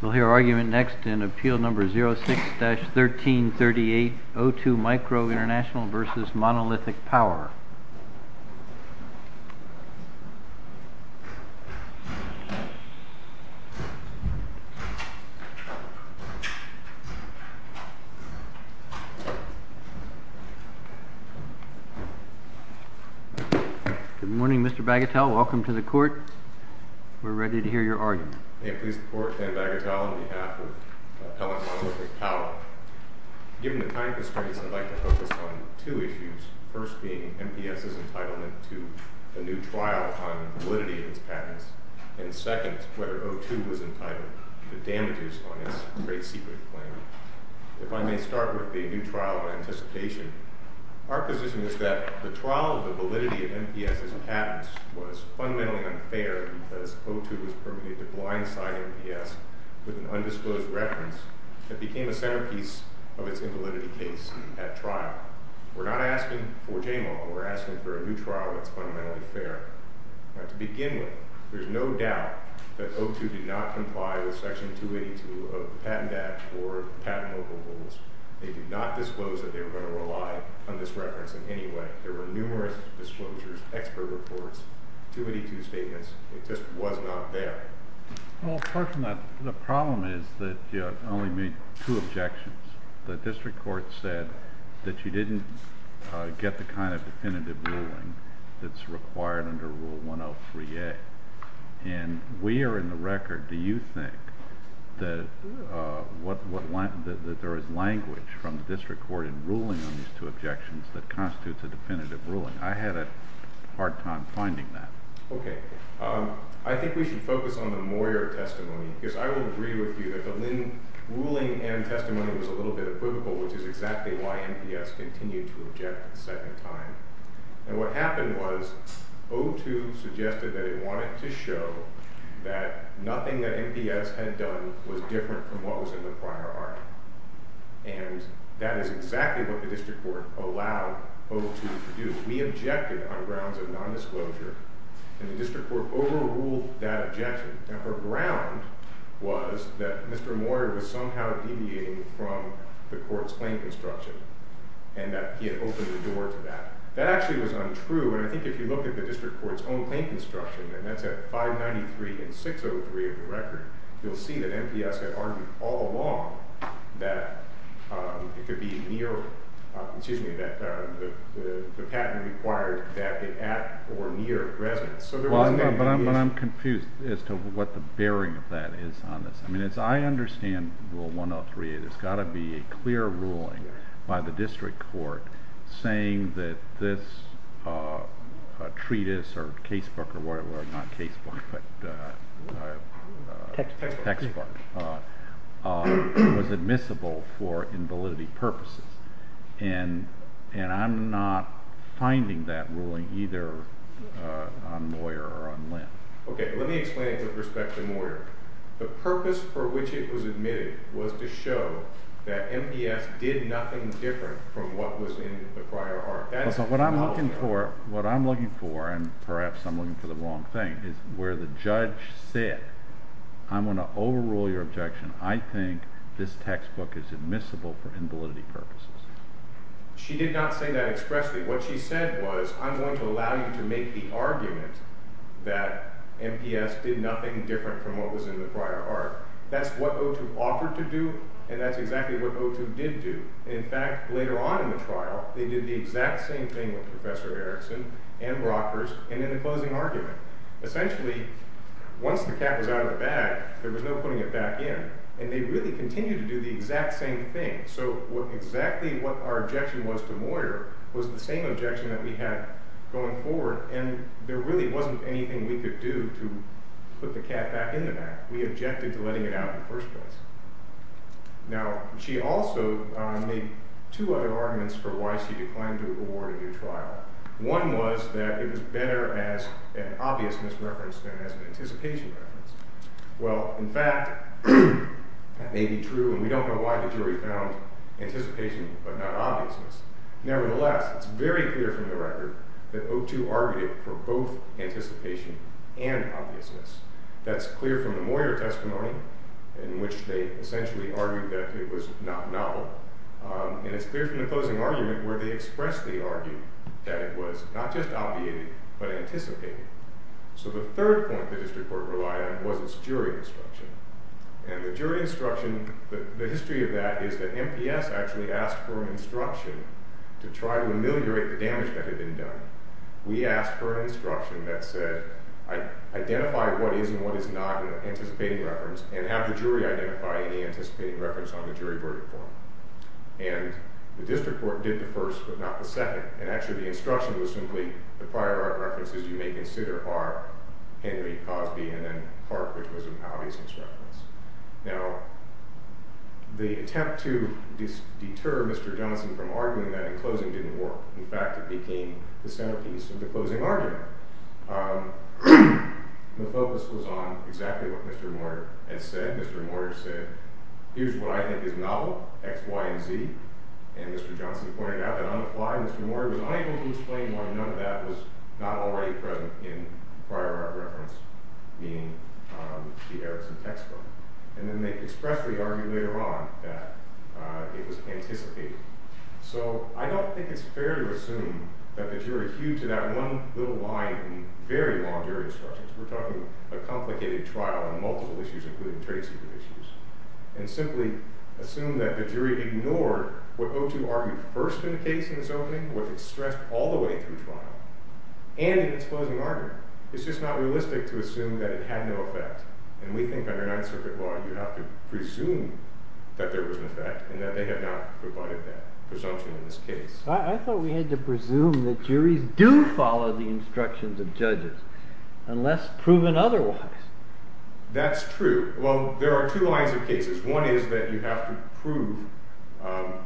We'll hear our argument next in Appeal No. 06-1338 O2 Micro Intl v. Monolithic Power. Good morning, Mr. Bagatelle. Welcome to the Court. We're ready to hear your argument. May it please the Court, Dan Bagatelle on behalf of Appellant Monolithic Power. Given the time constraints, I'd like to focus on two issues. First being MPS's entitlement to a new trial on validity of its patents. And second, whether O2 was entitled to the damages on its great secret claim. If I may start with a new trial of anticipation. Our position is that the trial of the validity of MPS's patents was fundamentally unfair because O2 was permitted to blindside MPS with an undisclosed reference that became a centerpiece of its invalidity case at trial. We're not asking for JMAW. We're asking for a new trial that's fundamentally fair. To begin with, there's no doubt that O2 did not comply with Section 282 of the Patent Act or the Patent Local Rules. They did not disclose that they were going to rely on this reference in any way. There were numerous disclosures, expert reports, 282 statements. It just was not there. Well, the problem is that you only made two objections. The District Court said that you didn't get the kind of definitive ruling that's required under Rule 103A. And we are in the record. Do you think that there is language from the District Court in ruling on these two objections that constitutes a definitive ruling? I had a hard time finding that. Okay. I think we should focus on the Moyer testimony because I would agree with you that the Lynn ruling and testimony was a little bit of brutal, which is exactly why MPS continued to object the second time. And what happened was O2 suggested that it wanted to show that nothing that MPS had done was different from what was in the prior argument. And that is exactly what the District Court allowed O2 to do. We objected on grounds of non-disclosure, and the District Court overruled that objection. And her ground was that Mr. Moyer was somehow deviating from the Court's claim construction and that he had opened the door to that. That actually was untrue, and I think if you look at the District Court's own claim construction, and that's at 593 and 603 of the record, you'll see that MPS had argued all along that the patent required that it act or near residence. But I'm confused as to what the bearing of that is on this. As I understand Rule 103, there's got to be a clear ruling by the District Court saying that this treatise or textbook was admissible for invalidity purposes. And I'm not finding that ruling either on Moyer or on Lynn. Okay, let me explain it with respect to Moyer. The purpose for which it was admitted was to show that MPS did nothing different from what was in the prior art. What I'm looking for, and perhaps I'm looking for the wrong thing, is where the judge said, I'm going to overrule your objection. I think this textbook is admissible for invalidity purposes. She did not say that expressly. What she said was, I'm going to allow you to make the argument that MPS did nothing different from what was in the prior art. That's what O2 offered to do, and that's exactly what O2 did do. In fact, later on in the trial, they did the exact same thing with Professor Erickson and Brockers, and in the closing argument. Essentially, once the cat was out of the bag, there was no putting it back in. And they really continued to do the exact same thing. So exactly what our objection was to Moyer was the same objection that we had going forward. And there really wasn't anything we could do to put the cat back in the bag. We objected to letting it out in the first place. Now, she also made two other arguments for why she declined to award a new trial. One was that it was better as an obviousness reference than as an anticipation reference. Well, in fact, that may be true, and we don't know why the jury found anticipation but not obviousness. Nevertheless, it's very clear from the record that O2 argued for both anticipation and obviousness. That's clear from the Moyer testimony, in which they essentially argued that it was not novel. And it's clear from the closing argument where they expressly argued that it was not just obviated but anticipated. So the third point the district court relied on was its jury instruction. And the jury instruction, the history of that is that MPS actually asked for an instruction to try to ameliorate the damage that had been done. We asked for an instruction that said identify what is and what is not an anticipating reference and have the jury identify any anticipating reference on the jury verdict form. And the district court did the first but not the second. And actually the instruction was simply the prior art references you may consider are Henry, Cosby, and then Clark, which was an obvious instruction. Now, the attempt to deter Mr. Johnson from arguing that in closing didn't work. In fact, it became the centerpiece of the closing argument. The focus was on exactly what Mr. Moyer had said. Mr. Moyer said, here's what I think is novel, X, Y, and Z. And Mr. Johnson pointed out that on the fly Mr. Moyer was unable to explain why none of that was not already present in prior art reference, meaning the Erickson textbook. And then they expressly argued later on that it was anticipated. So I don't think it's fair to assume that the jury hewed to that one little line in the very long jury instructions. We're talking a complicated trial on multiple issues, including trade secret issues. And simply assume that the jury ignored what O2 argued first in the case in this opening, what it stressed all the way through trial, and in its closing argument. It's just not realistic to assume that it had no effect. And we think under Ninth Circuit law you have to presume that there was an effect and that they have not provided that presumption in this case. I thought we had to presume that juries do follow the instructions of judges, unless proven otherwise. That's true. Well, there are two lines of cases. One is that you have to prove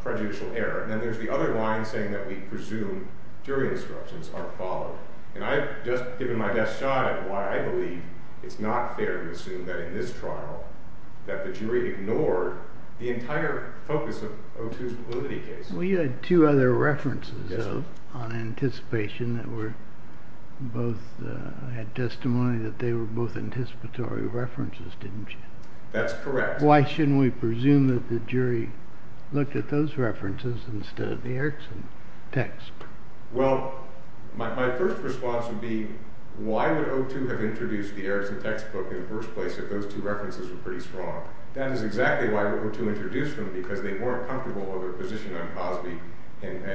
prejudicial error. And then there's the other line saying that we presume jury instructions are followed. And I've just given my best shot at why I believe it's not fair to assume that in this trial that the jury ignored the entire focus of O2's validity case. We had two other references on anticipation that were both had testimony that they were both anticipatory references, didn't you? That's correct. Why shouldn't we presume that the jury looked at those references instead of the Erickson text? Well, my first response would be, why would O2 have introduced the Erickson textbook in the first place if those two references were pretty strong? That is exactly why O2 introduced them, because they weren't comfortable with their position on Cosby and the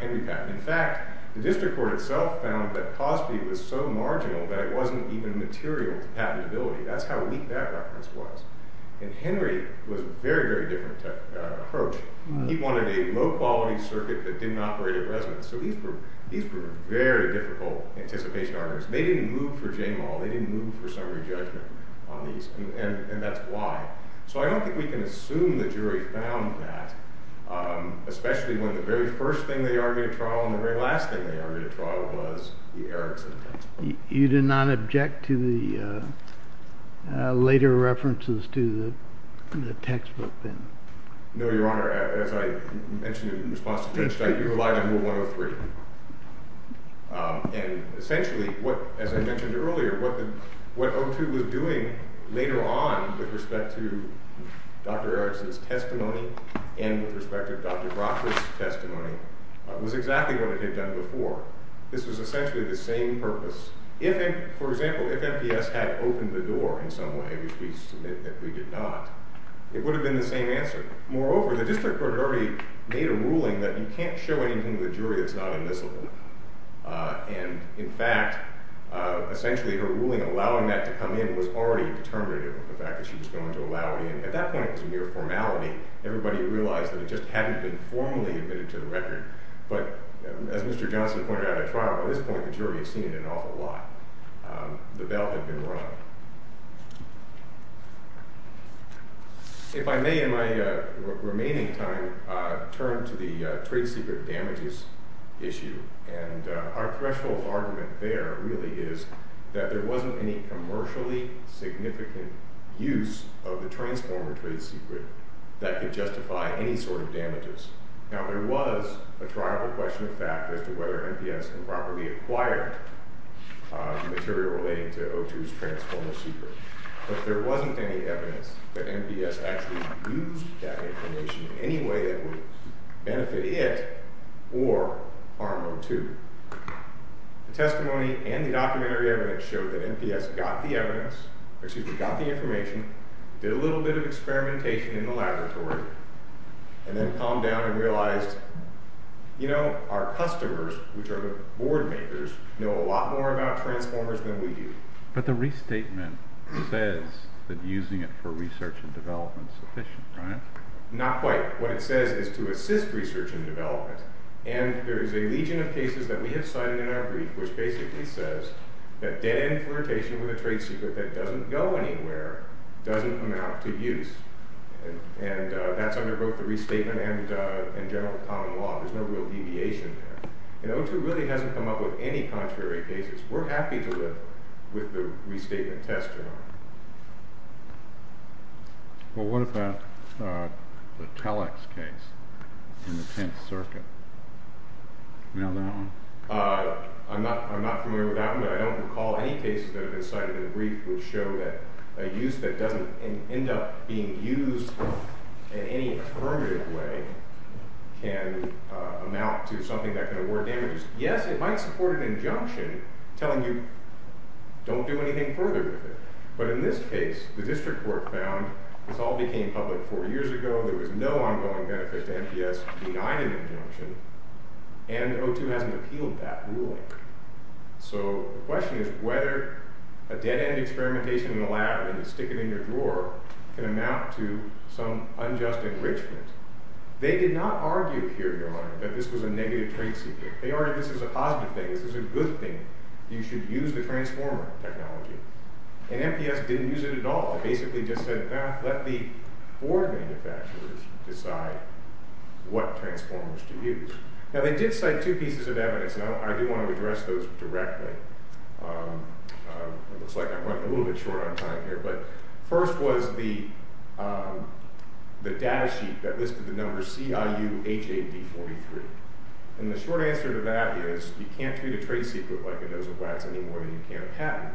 Henry patent. In fact, the district court itself found that Cosby was so marginal that it wasn't even material to patentability. That's how weak that reference was. And Henry was a very, very different approach. He wanted a low-quality circuit that didn't operate at resonance. So these were very difficult anticipation arguments. They didn't move for Jamal. They didn't move for summary judgment on these, and that's why. So I don't think we can assume the jury found that, especially when the very first thing they argued at trial and the very last thing they argued at trial was the Erickson textbook. You did not object to the later references to the textbook, then? No, Your Honor. As I mentioned in response to Mitch, I utilized Rule 103. And essentially, as I mentioned earlier, what O2 was doing later on with respect to Dr. Erickson's testimony and with respect to Dr. Brockford's testimony was exactly what it had done before. This was essentially the same purpose. For example, if MPS had opened the door in some way, which we submit that we did not, it would have been the same answer. Moreover, the district court had already made a ruling that you can't show anything to the jury that's not admissible. And in fact, essentially, her ruling allowing that to come in was already determinative of the fact that she was going to allow it in. At that point, it was a mere formality. Everybody realized that it just hadn't been formally admitted to the record. But as Mr. Johnson pointed out at trial, by this point, the jury had seen it an awful lot. The belt had been run. If I may, in my remaining time, turn to the trade secret damages issue. And our threshold argument there really is that there wasn't any commercially significant use of the transformer trade secret that could justify any sort of damages. Now, there was a tribal question of fact as to whether MPS improperly acquired material relating to O2's transformer secret. But there wasn't any evidence that MPS actually used that information in any way that would benefit it or harm O2. The testimony and the documentary evidence showed that MPS got the information, did a little bit of experimentation in the laboratory, and then calmed down and realized, you know, our customers, which are the board makers, know a lot more about transformers than we do. But the restatement says that using it for research and development is sufficient, right? Not quite. What it says is to assist research and development. And there is a legion of cases that we have cited in our brief which basically says that dead-end flirtation with a trade secret that doesn't go anywhere doesn't amount to use and that's under both the restatement and general common law. There's no real deviation there. And O2 really hasn't come up with any contrary cases. We're happy to live with the restatement test, you know. Well, what about the Telex case in the 10th Circuit? You know that one? I'm not familiar with that one, but I don't recall any cases that have been cited in the brief which show that a use that doesn't end up being used in any affirmative way can amount to something that can award damages. Yes, it might support an injunction telling you, don't do anything further with it. But in this case, the district court found, this all became public four years ago, there was no ongoing benefit to NPS denying an injunction, and O2 hasn't appealed that ruling. So the question is whether a dead-end experimentation in a lab and you stick it in your drawer can amount to some unjust enrichment. They did not argue here, your Honor, that this was a negative trade secret. They argued this is a positive thing, this is a good thing. You should use the transformer technology. And NPS didn't use it at all. They basically just said, well, let the board of manufacturers decide what transformers to use. Now they did cite two pieces of evidence. And I do want to address those directly. It looks like I'm running a little bit short on time here. But first was the data sheet that listed the numbers CIU-HA-D43. And the short answer to that is you can't treat a trade secret like a nose of wax any more than you can a patent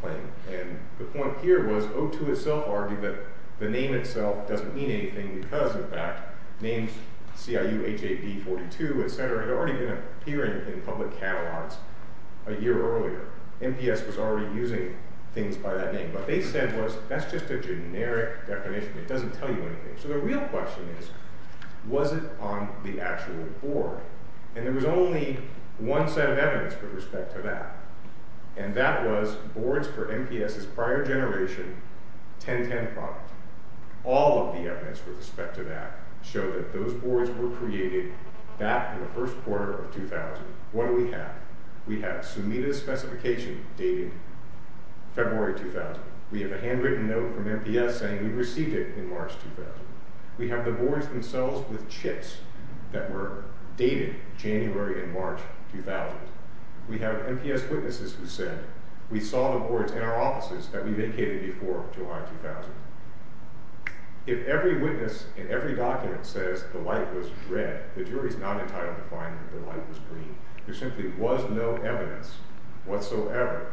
claim. And the point here was O2 itself argued that the name itself doesn't mean anything because, in fact, names CIU-HA-D42, et cetera, had already been appearing in public catalogs a year earlier. NPS was already using things by that name. What they said was that's just a generic definition. It doesn't tell you anything. So the real question is, was it on the actual board? And there was only one set of evidence with respect to that. And that was boards for NPS's prior generation 1010 product. All of the evidence with respect to that showed that those boards were created back in the first quarter of 2000. What do we have? We have Sumida's specification dated February 2000. We have a handwritten note from NPS saying we received it in March 2000. We have the boards themselves with chips that were dated January and March 2000. We have NPS witnesses who said we saw the boards in our offices that we vacated before July 2000. If every witness in every document says the light was red, the jury is not entitled to find that the light was green. There simply was no evidence whatsoever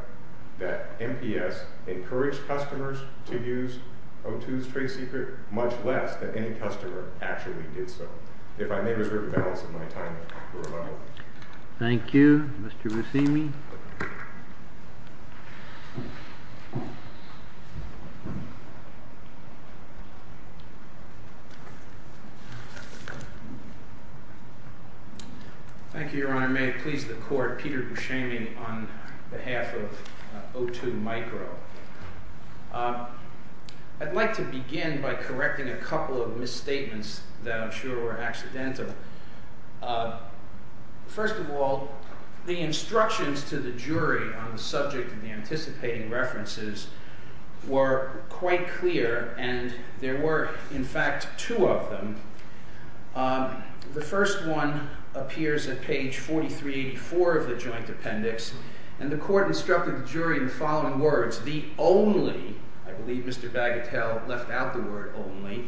that NPS encouraged customers to use O2's trade secret, much less that any customer actually did so. If I may reserve the balance of my time for rebuttal. Thank you, Mr. Buscemi. Thank you, Your Honor. May it please the court, Peter Buscemi on behalf of O2 Micro. I'd like to begin by correcting a couple of misstatements that I'm sure were accidental. First of all, the instructions to the jury on the subject of the anticipating references were quite clear and there were in fact two of them. The first one appears at page 4384 of the joint appendix and the court instructed the jury in the following words, the only, I believe Mr. Bagatelle left out the word only,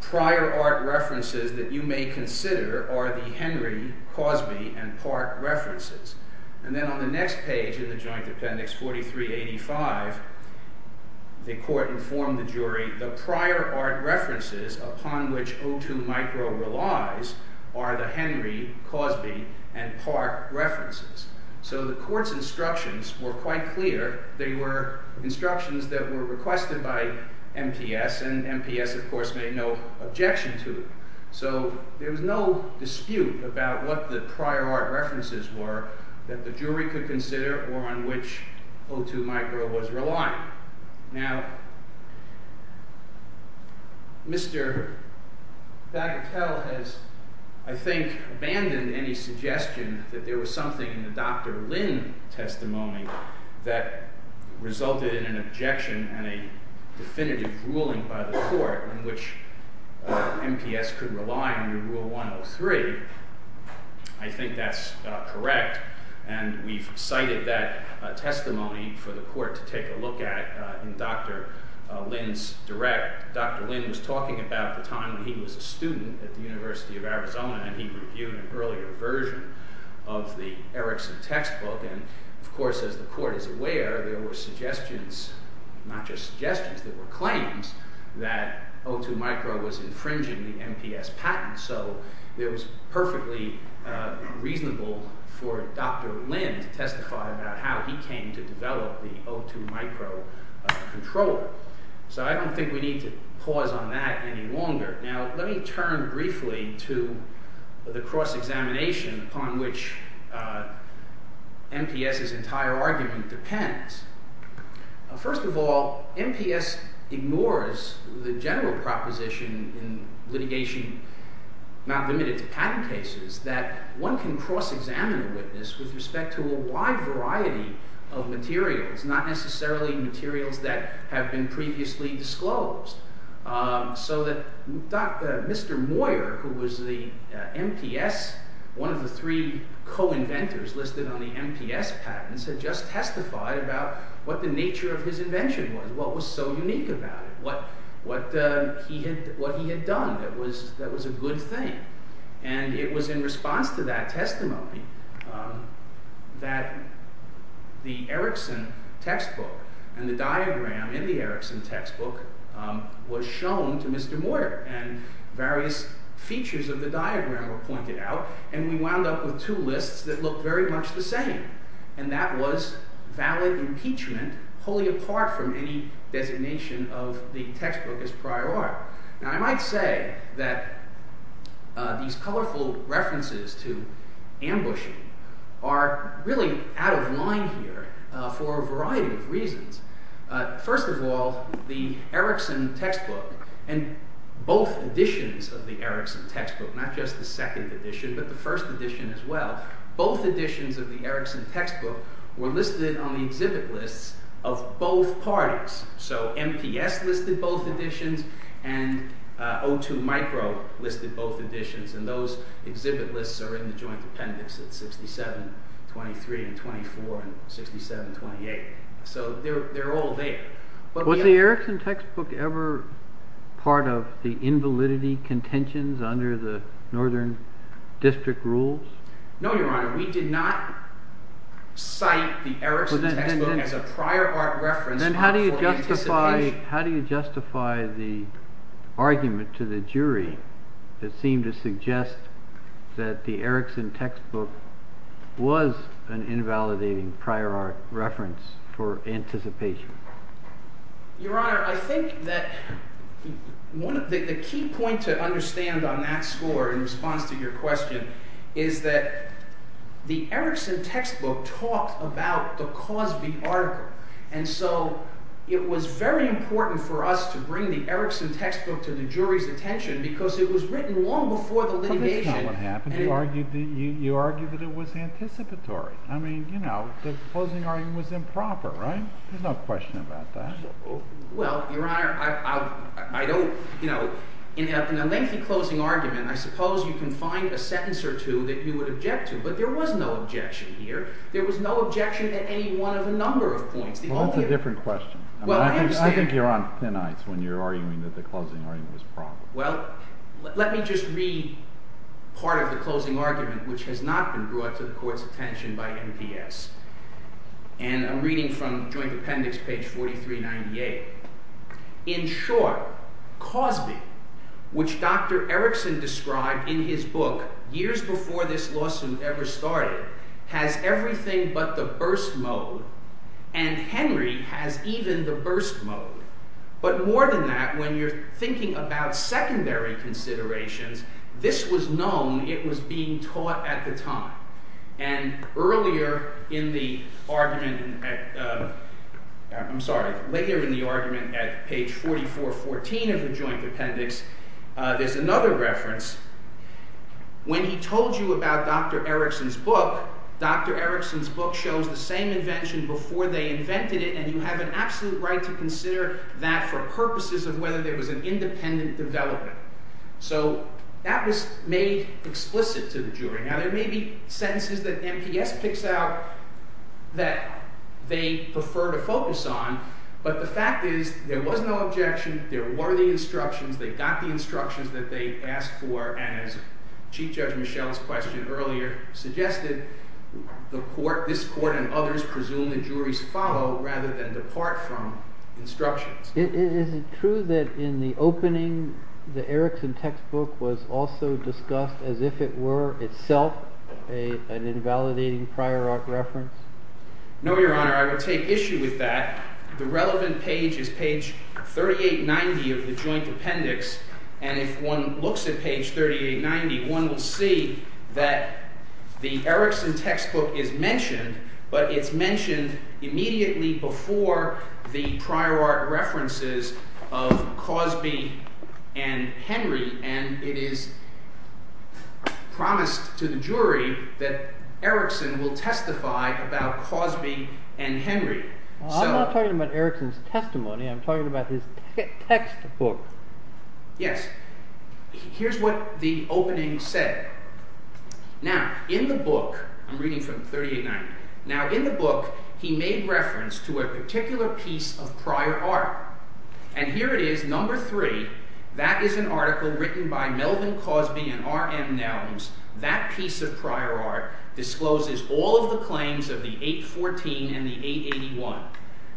prior art references that you may consider are the Henry, Cosby and Park references. And then on the next page in the joint appendix 4385, the court informed the jury the prior art references upon which O2 Micro relies are the Henry, Cosby and Park references. So the court's instructions were quite clear. They were instructions that were requested by NPS and NPS of course made no objection to it. So there was no dispute about what the prior art references were that the jury could consider or on which O2 Micro was relying. Now, Mr. Bagatelle has, I think, abandoned any suggestion that there was something in the Dr. Lynn testimony that resulted in an objection and a definitive ruling by the court in which NPS could rely under Rule 103. I think that's correct and we've cited that testimony for the court to take a look at in Dr. Lynn's direct. Dr. Lynn was talking about the time when he was a student at the University of Arizona and he reviewed an earlier version of the Erickson textbook and of course as the court is aware, there were suggestions, not just suggestions, there were claims that O2 Micro was infringing the NPS patent. So it was perfectly reasonable for Dr. Lynn to testify about how he came to develop the O2 Micro controller. So I don't think we need to pause on that any longer. Now, let me turn briefly to the cross-examination upon which NPS's entire argument depends. First of all, NPS ignores the general proposition in litigation not limited to patent cases that one can cross-examine a witness with respect to a wide variety of materials, not necessarily materials that have been previously disclosed. So that Mr. Moyer, who was the NPS, one of the three co-inventors listed on the NPS patents, had just testified about what the nature of his invention was, what was so unique about it, what he had done that was a good thing. And it was in response to that testimony that the Erickson textbook and the diagram in the Erickson textbook was shown to Mr. Moyer and various features of the diagram were pointed out and we wound up with two lists that looked very much the same and that was valid impeachment wholly apart from any designation of the textbook as prior art. Now, I might say that these colorful references to ambushing are really out of line here for a variety of reasons. First of all, the Erickson textbook and both editions of the Erickson textbook, not just the second edition but the first edition as well, both editions of the Erickson textbook were listed on the exhibit lists of both parties. So NPS listed both editions and O2 Micro listed both editions and those exhibit lists are in the joint appendix at 67-23 and 24 and 67-28. So they're all there. Was the Erickson textbook ever part of the invalidity contentions under the Northern District rules? No, Your Honor. We did not cite the Erickson textbook as a prior art reference for anticipation. Then how do you justify the argument to the jury that seemed to suggest that the Erickson textbook was an invalidating prior art reference for anticipation? Your Honor, I think that the key point to understand on that score in response to your question is that the Erickson textbook talked about the cause of the article and so it was very important for us to bring the Erickson textbook to the jury's attention because it was written long before the litigation. But that's not what happened. You argued that it was anticipatory. I mean, you know, the closing argument was improper, right? There's no question about that. Well, Your Honor, I don't, you know, in a lengthy closing argument, I suppose you can find a sentence or two that you would object to, but there was no objection here. There was no objection at any one of the number of points. Well, that's a different question. I think you're on thin ice when you're arguing that the closing argument was improper. Well, let me just read part of the closing argument which has not been brought to the Court's attention by MPS. And I'm reading from Joint Appendix, page 4398. In short, Cosby, which Dr. Erickson described in his book years before this lawsuit ever started, has everything but the burst mode, and Henry has even the burst mode. But more than that, when you're thinking about secondary considerations, this was known it was being taught at the time. And earlier in the argument... I'm sorry, later in the argument, at page 4414 of the Joint Appendix, there's another reference. When he told you about Dr. Erickson's book, Dr. Erickson's book shows the same invention before they invented it, and you have an absolute right to consider that for purposes of whether there was an independent development. So that was made explicit to the jury. Now, there may be sentences that MPS picks out that they prefer to focus on, but the fact is there was no objection, there were the instructions, they got the instructions that they asked for, and as Chief Judge Michel's question earlier suggested, this Court and others presume the juries follow rather than depart from instructions. Is it true that in the opening, the Erickson textbook was also discussed as if it were itself an invalidating prior art reference? No, Your Honor, I would take issue with that. The relevant page is page 3890 of the Joint Appendix, and if one looks at page 3890, one will see that the Erickson textbook is mentioned, but it's mentioned immediately before the prior art references of Cosby and Henry, and it is promised to the jury that Erickson will testify about Cosby and Henry. I'm not talking about Erickson's testimony, I'm talking about his textbook. Yes, here's what the opening said. Now, in the book, I'm reading from 3890, now in the book he made reference to a particular piece of prior art, and here it is, number three, that is an article written by Melvin Cosby and R. M. Nelms. That piece of prior art discloses all of the claims of the 814 and the 881.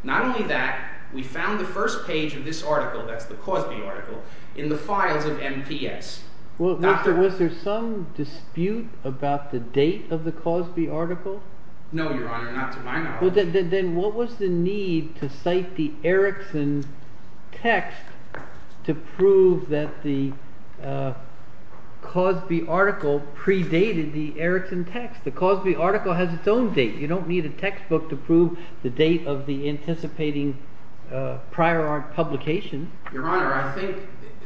Not only that, we found the first page of this article, that's the Cosby article, in the files of MPS. Was there some dispute about the date of the Cosby article? No, Your Honor, not to my knowledge. Then what was the need to cite the Erickson text to prove that the Cosby article predated the Erickson text? The Cosby article has its own date. You don't need a textbook to prove the date of the anticipating prior art publication. Your Honor, I think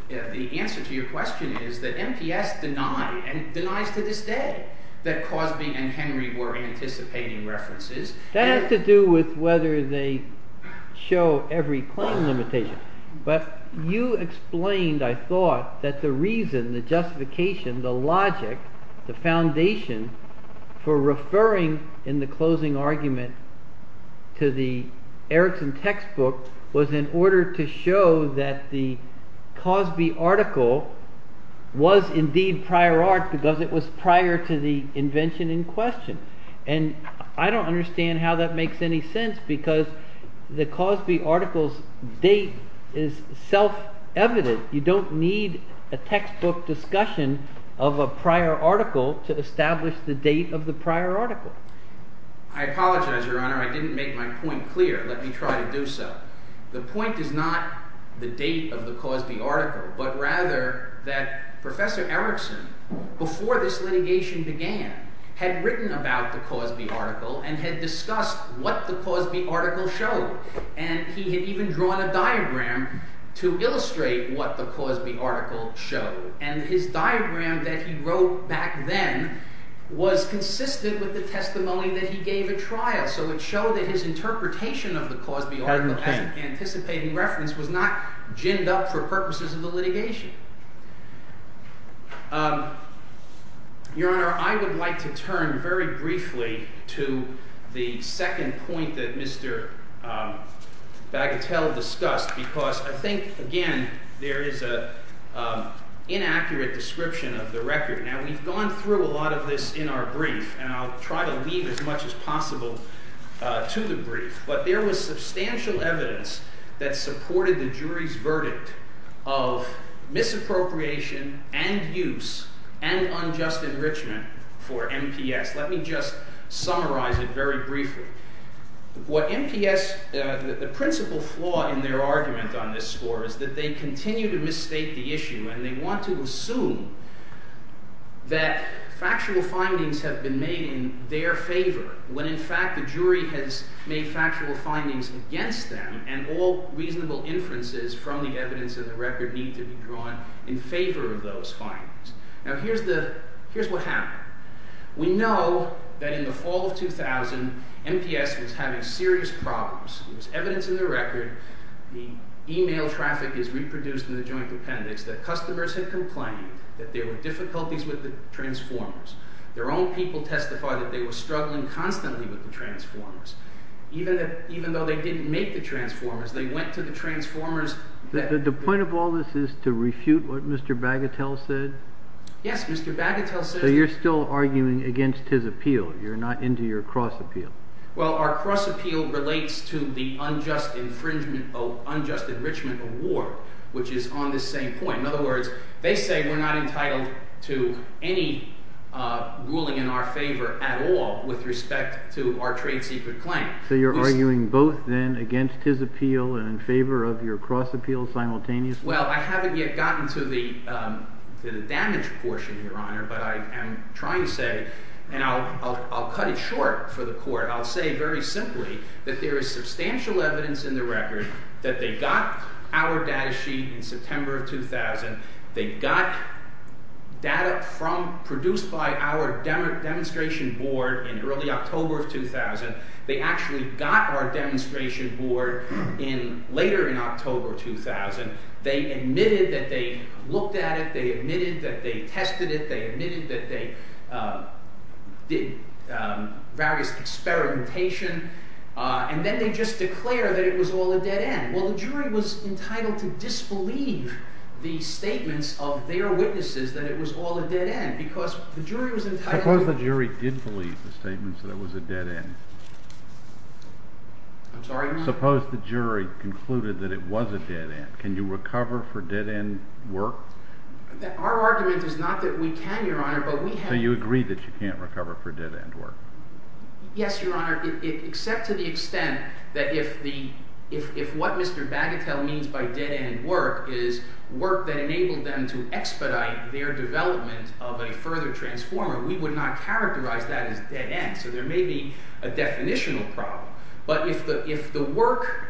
the answer to your question is that MPS denied, and denies to this day, that Cosby and Henry were anticipating references. That has to do with whether they show every claim limitation. But you explained, I thought, that the reason, the justification, the logic, the foundation for referring in the closing argument to the Erickson textbook was in order to show that the Cosby article was indeed prior art because it was prior to the invention in question. And I don't understand how that makes any sense because the Cosby article's date is self-evident. You don't need a textbook discussion of a prior article to establish the date of the prior article. I apologize, Your Honor, I didn't make my point clear. Let me try to do so. The point is not the date of the Cosby article, but rather that Professor Erickson, before this litigation began, had written about the Cosby article and had discussed what the Cosby article showed. And he had even drawn a diagram to illustrate what the Cosby article showed. And his diagram that he wrote back then was consistent with the testimony that he gave at trial. So it showed that his interpretation of the Cosby article as an anticipating reference was not ginned up for purposes of the litigation. Your Honor, I would like to turn very briefly to the second point that Mr. Bagatelle discussed because I think, again, there is an inaccurate description of the record. Now, we've gone through a lot of this in our brief, and I'll try to leave as much as possible to the brief. But there was substantial evidence that supported the jury's verdict of misappropriation and use and unjust enrichment for MPS. Let me just summarize it very briefly. What MPS... The principal flaw in their argument on this score is that they continue to misstate the issue, and they want to assume that factual findings have been made in their favor when, in fact, the jury has made factual findings against them and all reasonable inferences from the evidence in the record need to be drawn in favor of those findings. Now, here's what happened. We know that in the fall of 2000, MPS was having serious problems. There's evidence in the record. The e-mail traffic is reproduced in the joint appendix that customers had complained that there were difficulties with the transformers. Their own people testified that they were struggling constantly with the transformers, even though they didn't make the transformers. They went to the transformers... The point of all this is to refute what Mr. Bagatelle said? Yes, Mr. Bagatelle said... So you're still arguing against his appeal? You're not into your cross appeal? Well, our cross appeal relates to the unjust enrichment of war, which is on this same point. In other words, they say we're not entitled to any ruling in our favor at all with respect to our trade secret claim. So you're arguing both, then, against his appeal and in favor of your cross appeal simultaneously? Well, I haven't yet gotten to the damage portion, Your Honor, but I am trying to say... And I'll cut it short for the court. I'll say very simply that there is substantial evidence in the record that they got our data sheet in September of 2000. They got data produced by our demonstration board in early October of 2000. They actually got our demonstration board later in October 2000. They admitted that they looked at it. They admitted that they tested it. They admitted that they did various experimentation. And then they just declare that it was all a dead end. Well, the jury was entitled to disbelieve the statements of their witnesses that it was all a dead end because the jury was entitled to... I'm sorry, Your Honor? Suppose the jury concluded that it was a dead end. Can you recover for dead end work? Our argument is not that we can, Your Honor, but we have... So you agree that you can't recover for dead end work? Yes, Your Honor, except to the extent that if what Mr. Bagatelle means by dead end work is work that enabled them to expedite their development of a further transformer, we would not characterize that as dead end. So there may be a definitional problem. But if the work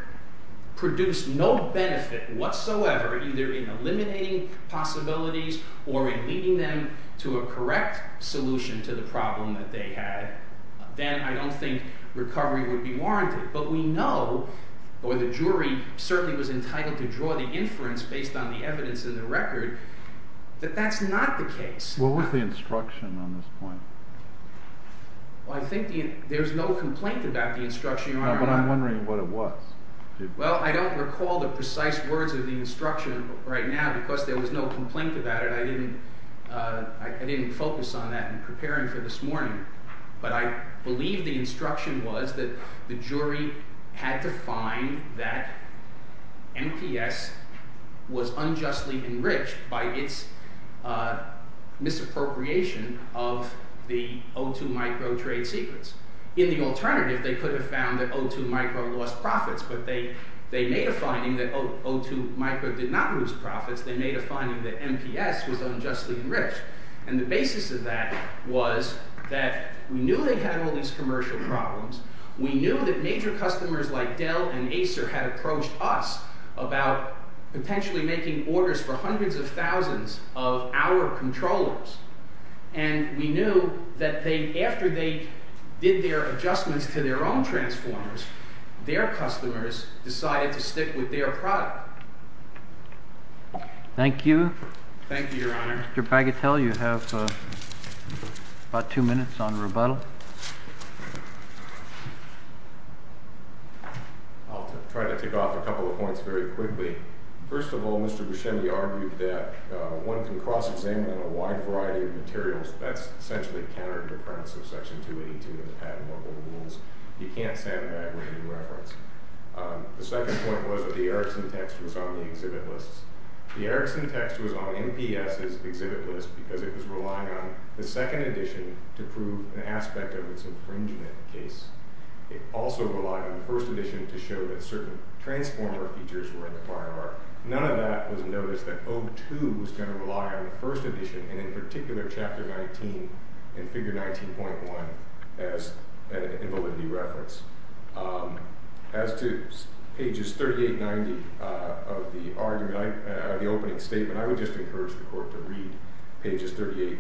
produced no benefit whatsoever either in eliminating possibilities or in leading them to a correct solution to the problem that they had, then I don't think recovery would be warranted. But we know, or the jury certainly was entitled to draw the inference based on the evidence in the record, that that's not the case. What was the instruction on this point? Well, I think there's no complaint about the instruction, Your Honor. But I'm wondering what it was. Well, I don't recall the precise words of the instruction right now because there was no complaint about it. I didn't focus on that in preparing for this morning. But I believe the instruction was that the jury had to find that MPS was unjustly enriched by its misappropriation of the O2 micro trade secrets. In the alternative, they could have found that O2 micro lost profits, but they made a finding that O2 micro did not lose profits. They made a finding that MPS was unjustly enriched. And the basis of that was that we knew they had all these commercial problems. We knew that major customers like Dell and Acer had approached us about potentially making orders for hundreds of thousands of our controllers. And we knew that after they did their adjustments to their own transformers, their customers decided to stick with their product. Thank you. Thank you, Your Honor. Mr. Bagatelle, you have about two minutes on rebuttal. I'll try to tick off a couple of points very quickly. First of all, Mr. Buscemi argued that one can cross-examine on a wide variety of materials. That's essentially counter to the premise of Section 282 of the patent. What were the rules? You can't say that with any reference. The second point was that the Erickson text was on the exhibit list. The Erickson text was on MPS's exhibit list because it was relying on the second edition to prove an aspect of its infringement case. It also relied on the first edition to show that certain transformer features were in the prior art. None of that was noticed that O2 was going to rely on the first edition, and in particular Chapter 19 and Figure 19.1, as an invalidity reference. As to pages 38 and 90 of the opening statement, I would just encourage the Court to read pages 38,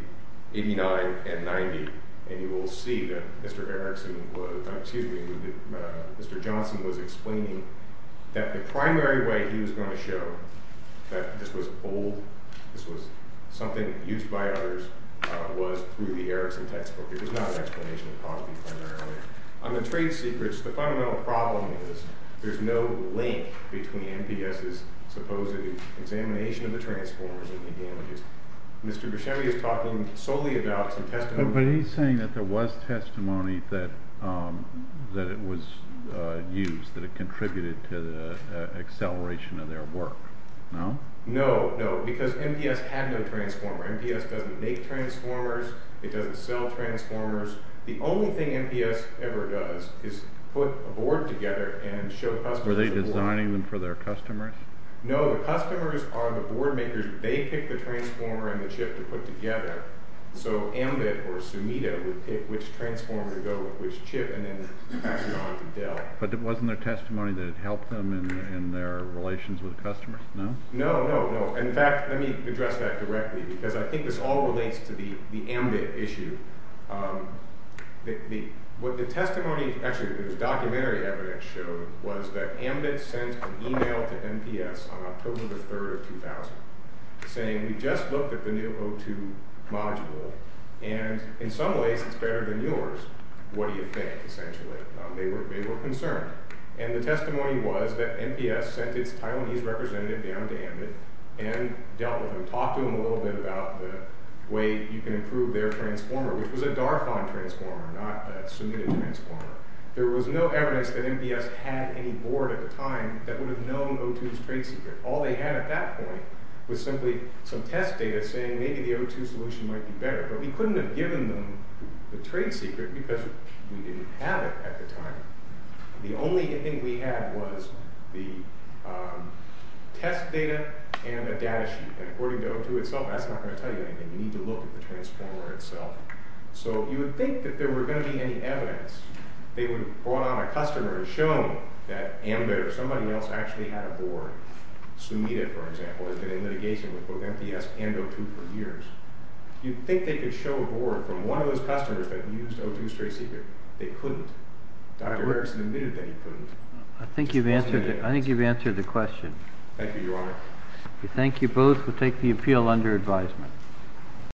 89, and 90, and you will see that Mr. Johnson was explaining that the primary way he was going to show that this was something used by others was through the Erickson textbook. It was not an explanation of poverty primarily. On the trade secrets, the fundamental problem is there's no link between MPS's supposed examination of the transformers and the damages. Mr. Buscemi is talking solely about some testimonies. But he's saying that there was testimony that it was used, that it contributed to the acceleration of their work, no? No, no, because MPS had no transformer. MPS doesn't make transformers. It doesn't sell transformers. The only thing MPS ever does is put a board together and show customers the board. Were they designing them for their customers? No, the customers are the board makers. They pick the transformer and the chip to put together, so Ambit or Sumida would pick which transformer to go with which chip and then pass it on to Dell. But it wasn't their testimony that it helped them in their relations with the customers, no? No, no, no. In fact, let me address that directly, because I think this all relates to the Ambit issue. What the testimony, actually, the documentary evidence showed was that Ambit sent an email to MPS on October 3, 2000, saying we just looked at the new O2 module, and in some ways it's better than yours. What do you think, essentially? They were concerned. And the testimony was that MPS sent its Taiwanese representative down to Ambit and dealt with them, talked to them a little bit about the way you can improve their transformer, which was a DARFON transformer, not a Sumida transformer. There was no evidence that MPS had any board at the time that would have known O2's trade secret. All they had at that point was simply some test data saying maybe the O2 solution might be better. But we couldn't have given them the trade secret because we didn't have it at the time. The only thing we had was the test data and a data sheet, and according to O2 itself, that's not going to tell you anything. You need to look at the transformer itself. So you would think that there were going to be any evidence. They would have brought on a customer and shown that Ambit or somebody else actually had a board. Sumida, for example, has been in litigation with both MPS and O2 for years. You'd think they could show a board from one of those customers that used O2's trade secret. They couldn't. Dr. Rickson admitted that he couldn't. I think you've answered the question. Thank you, Your Honor. We thank you both. We'll take the appeal under advisement.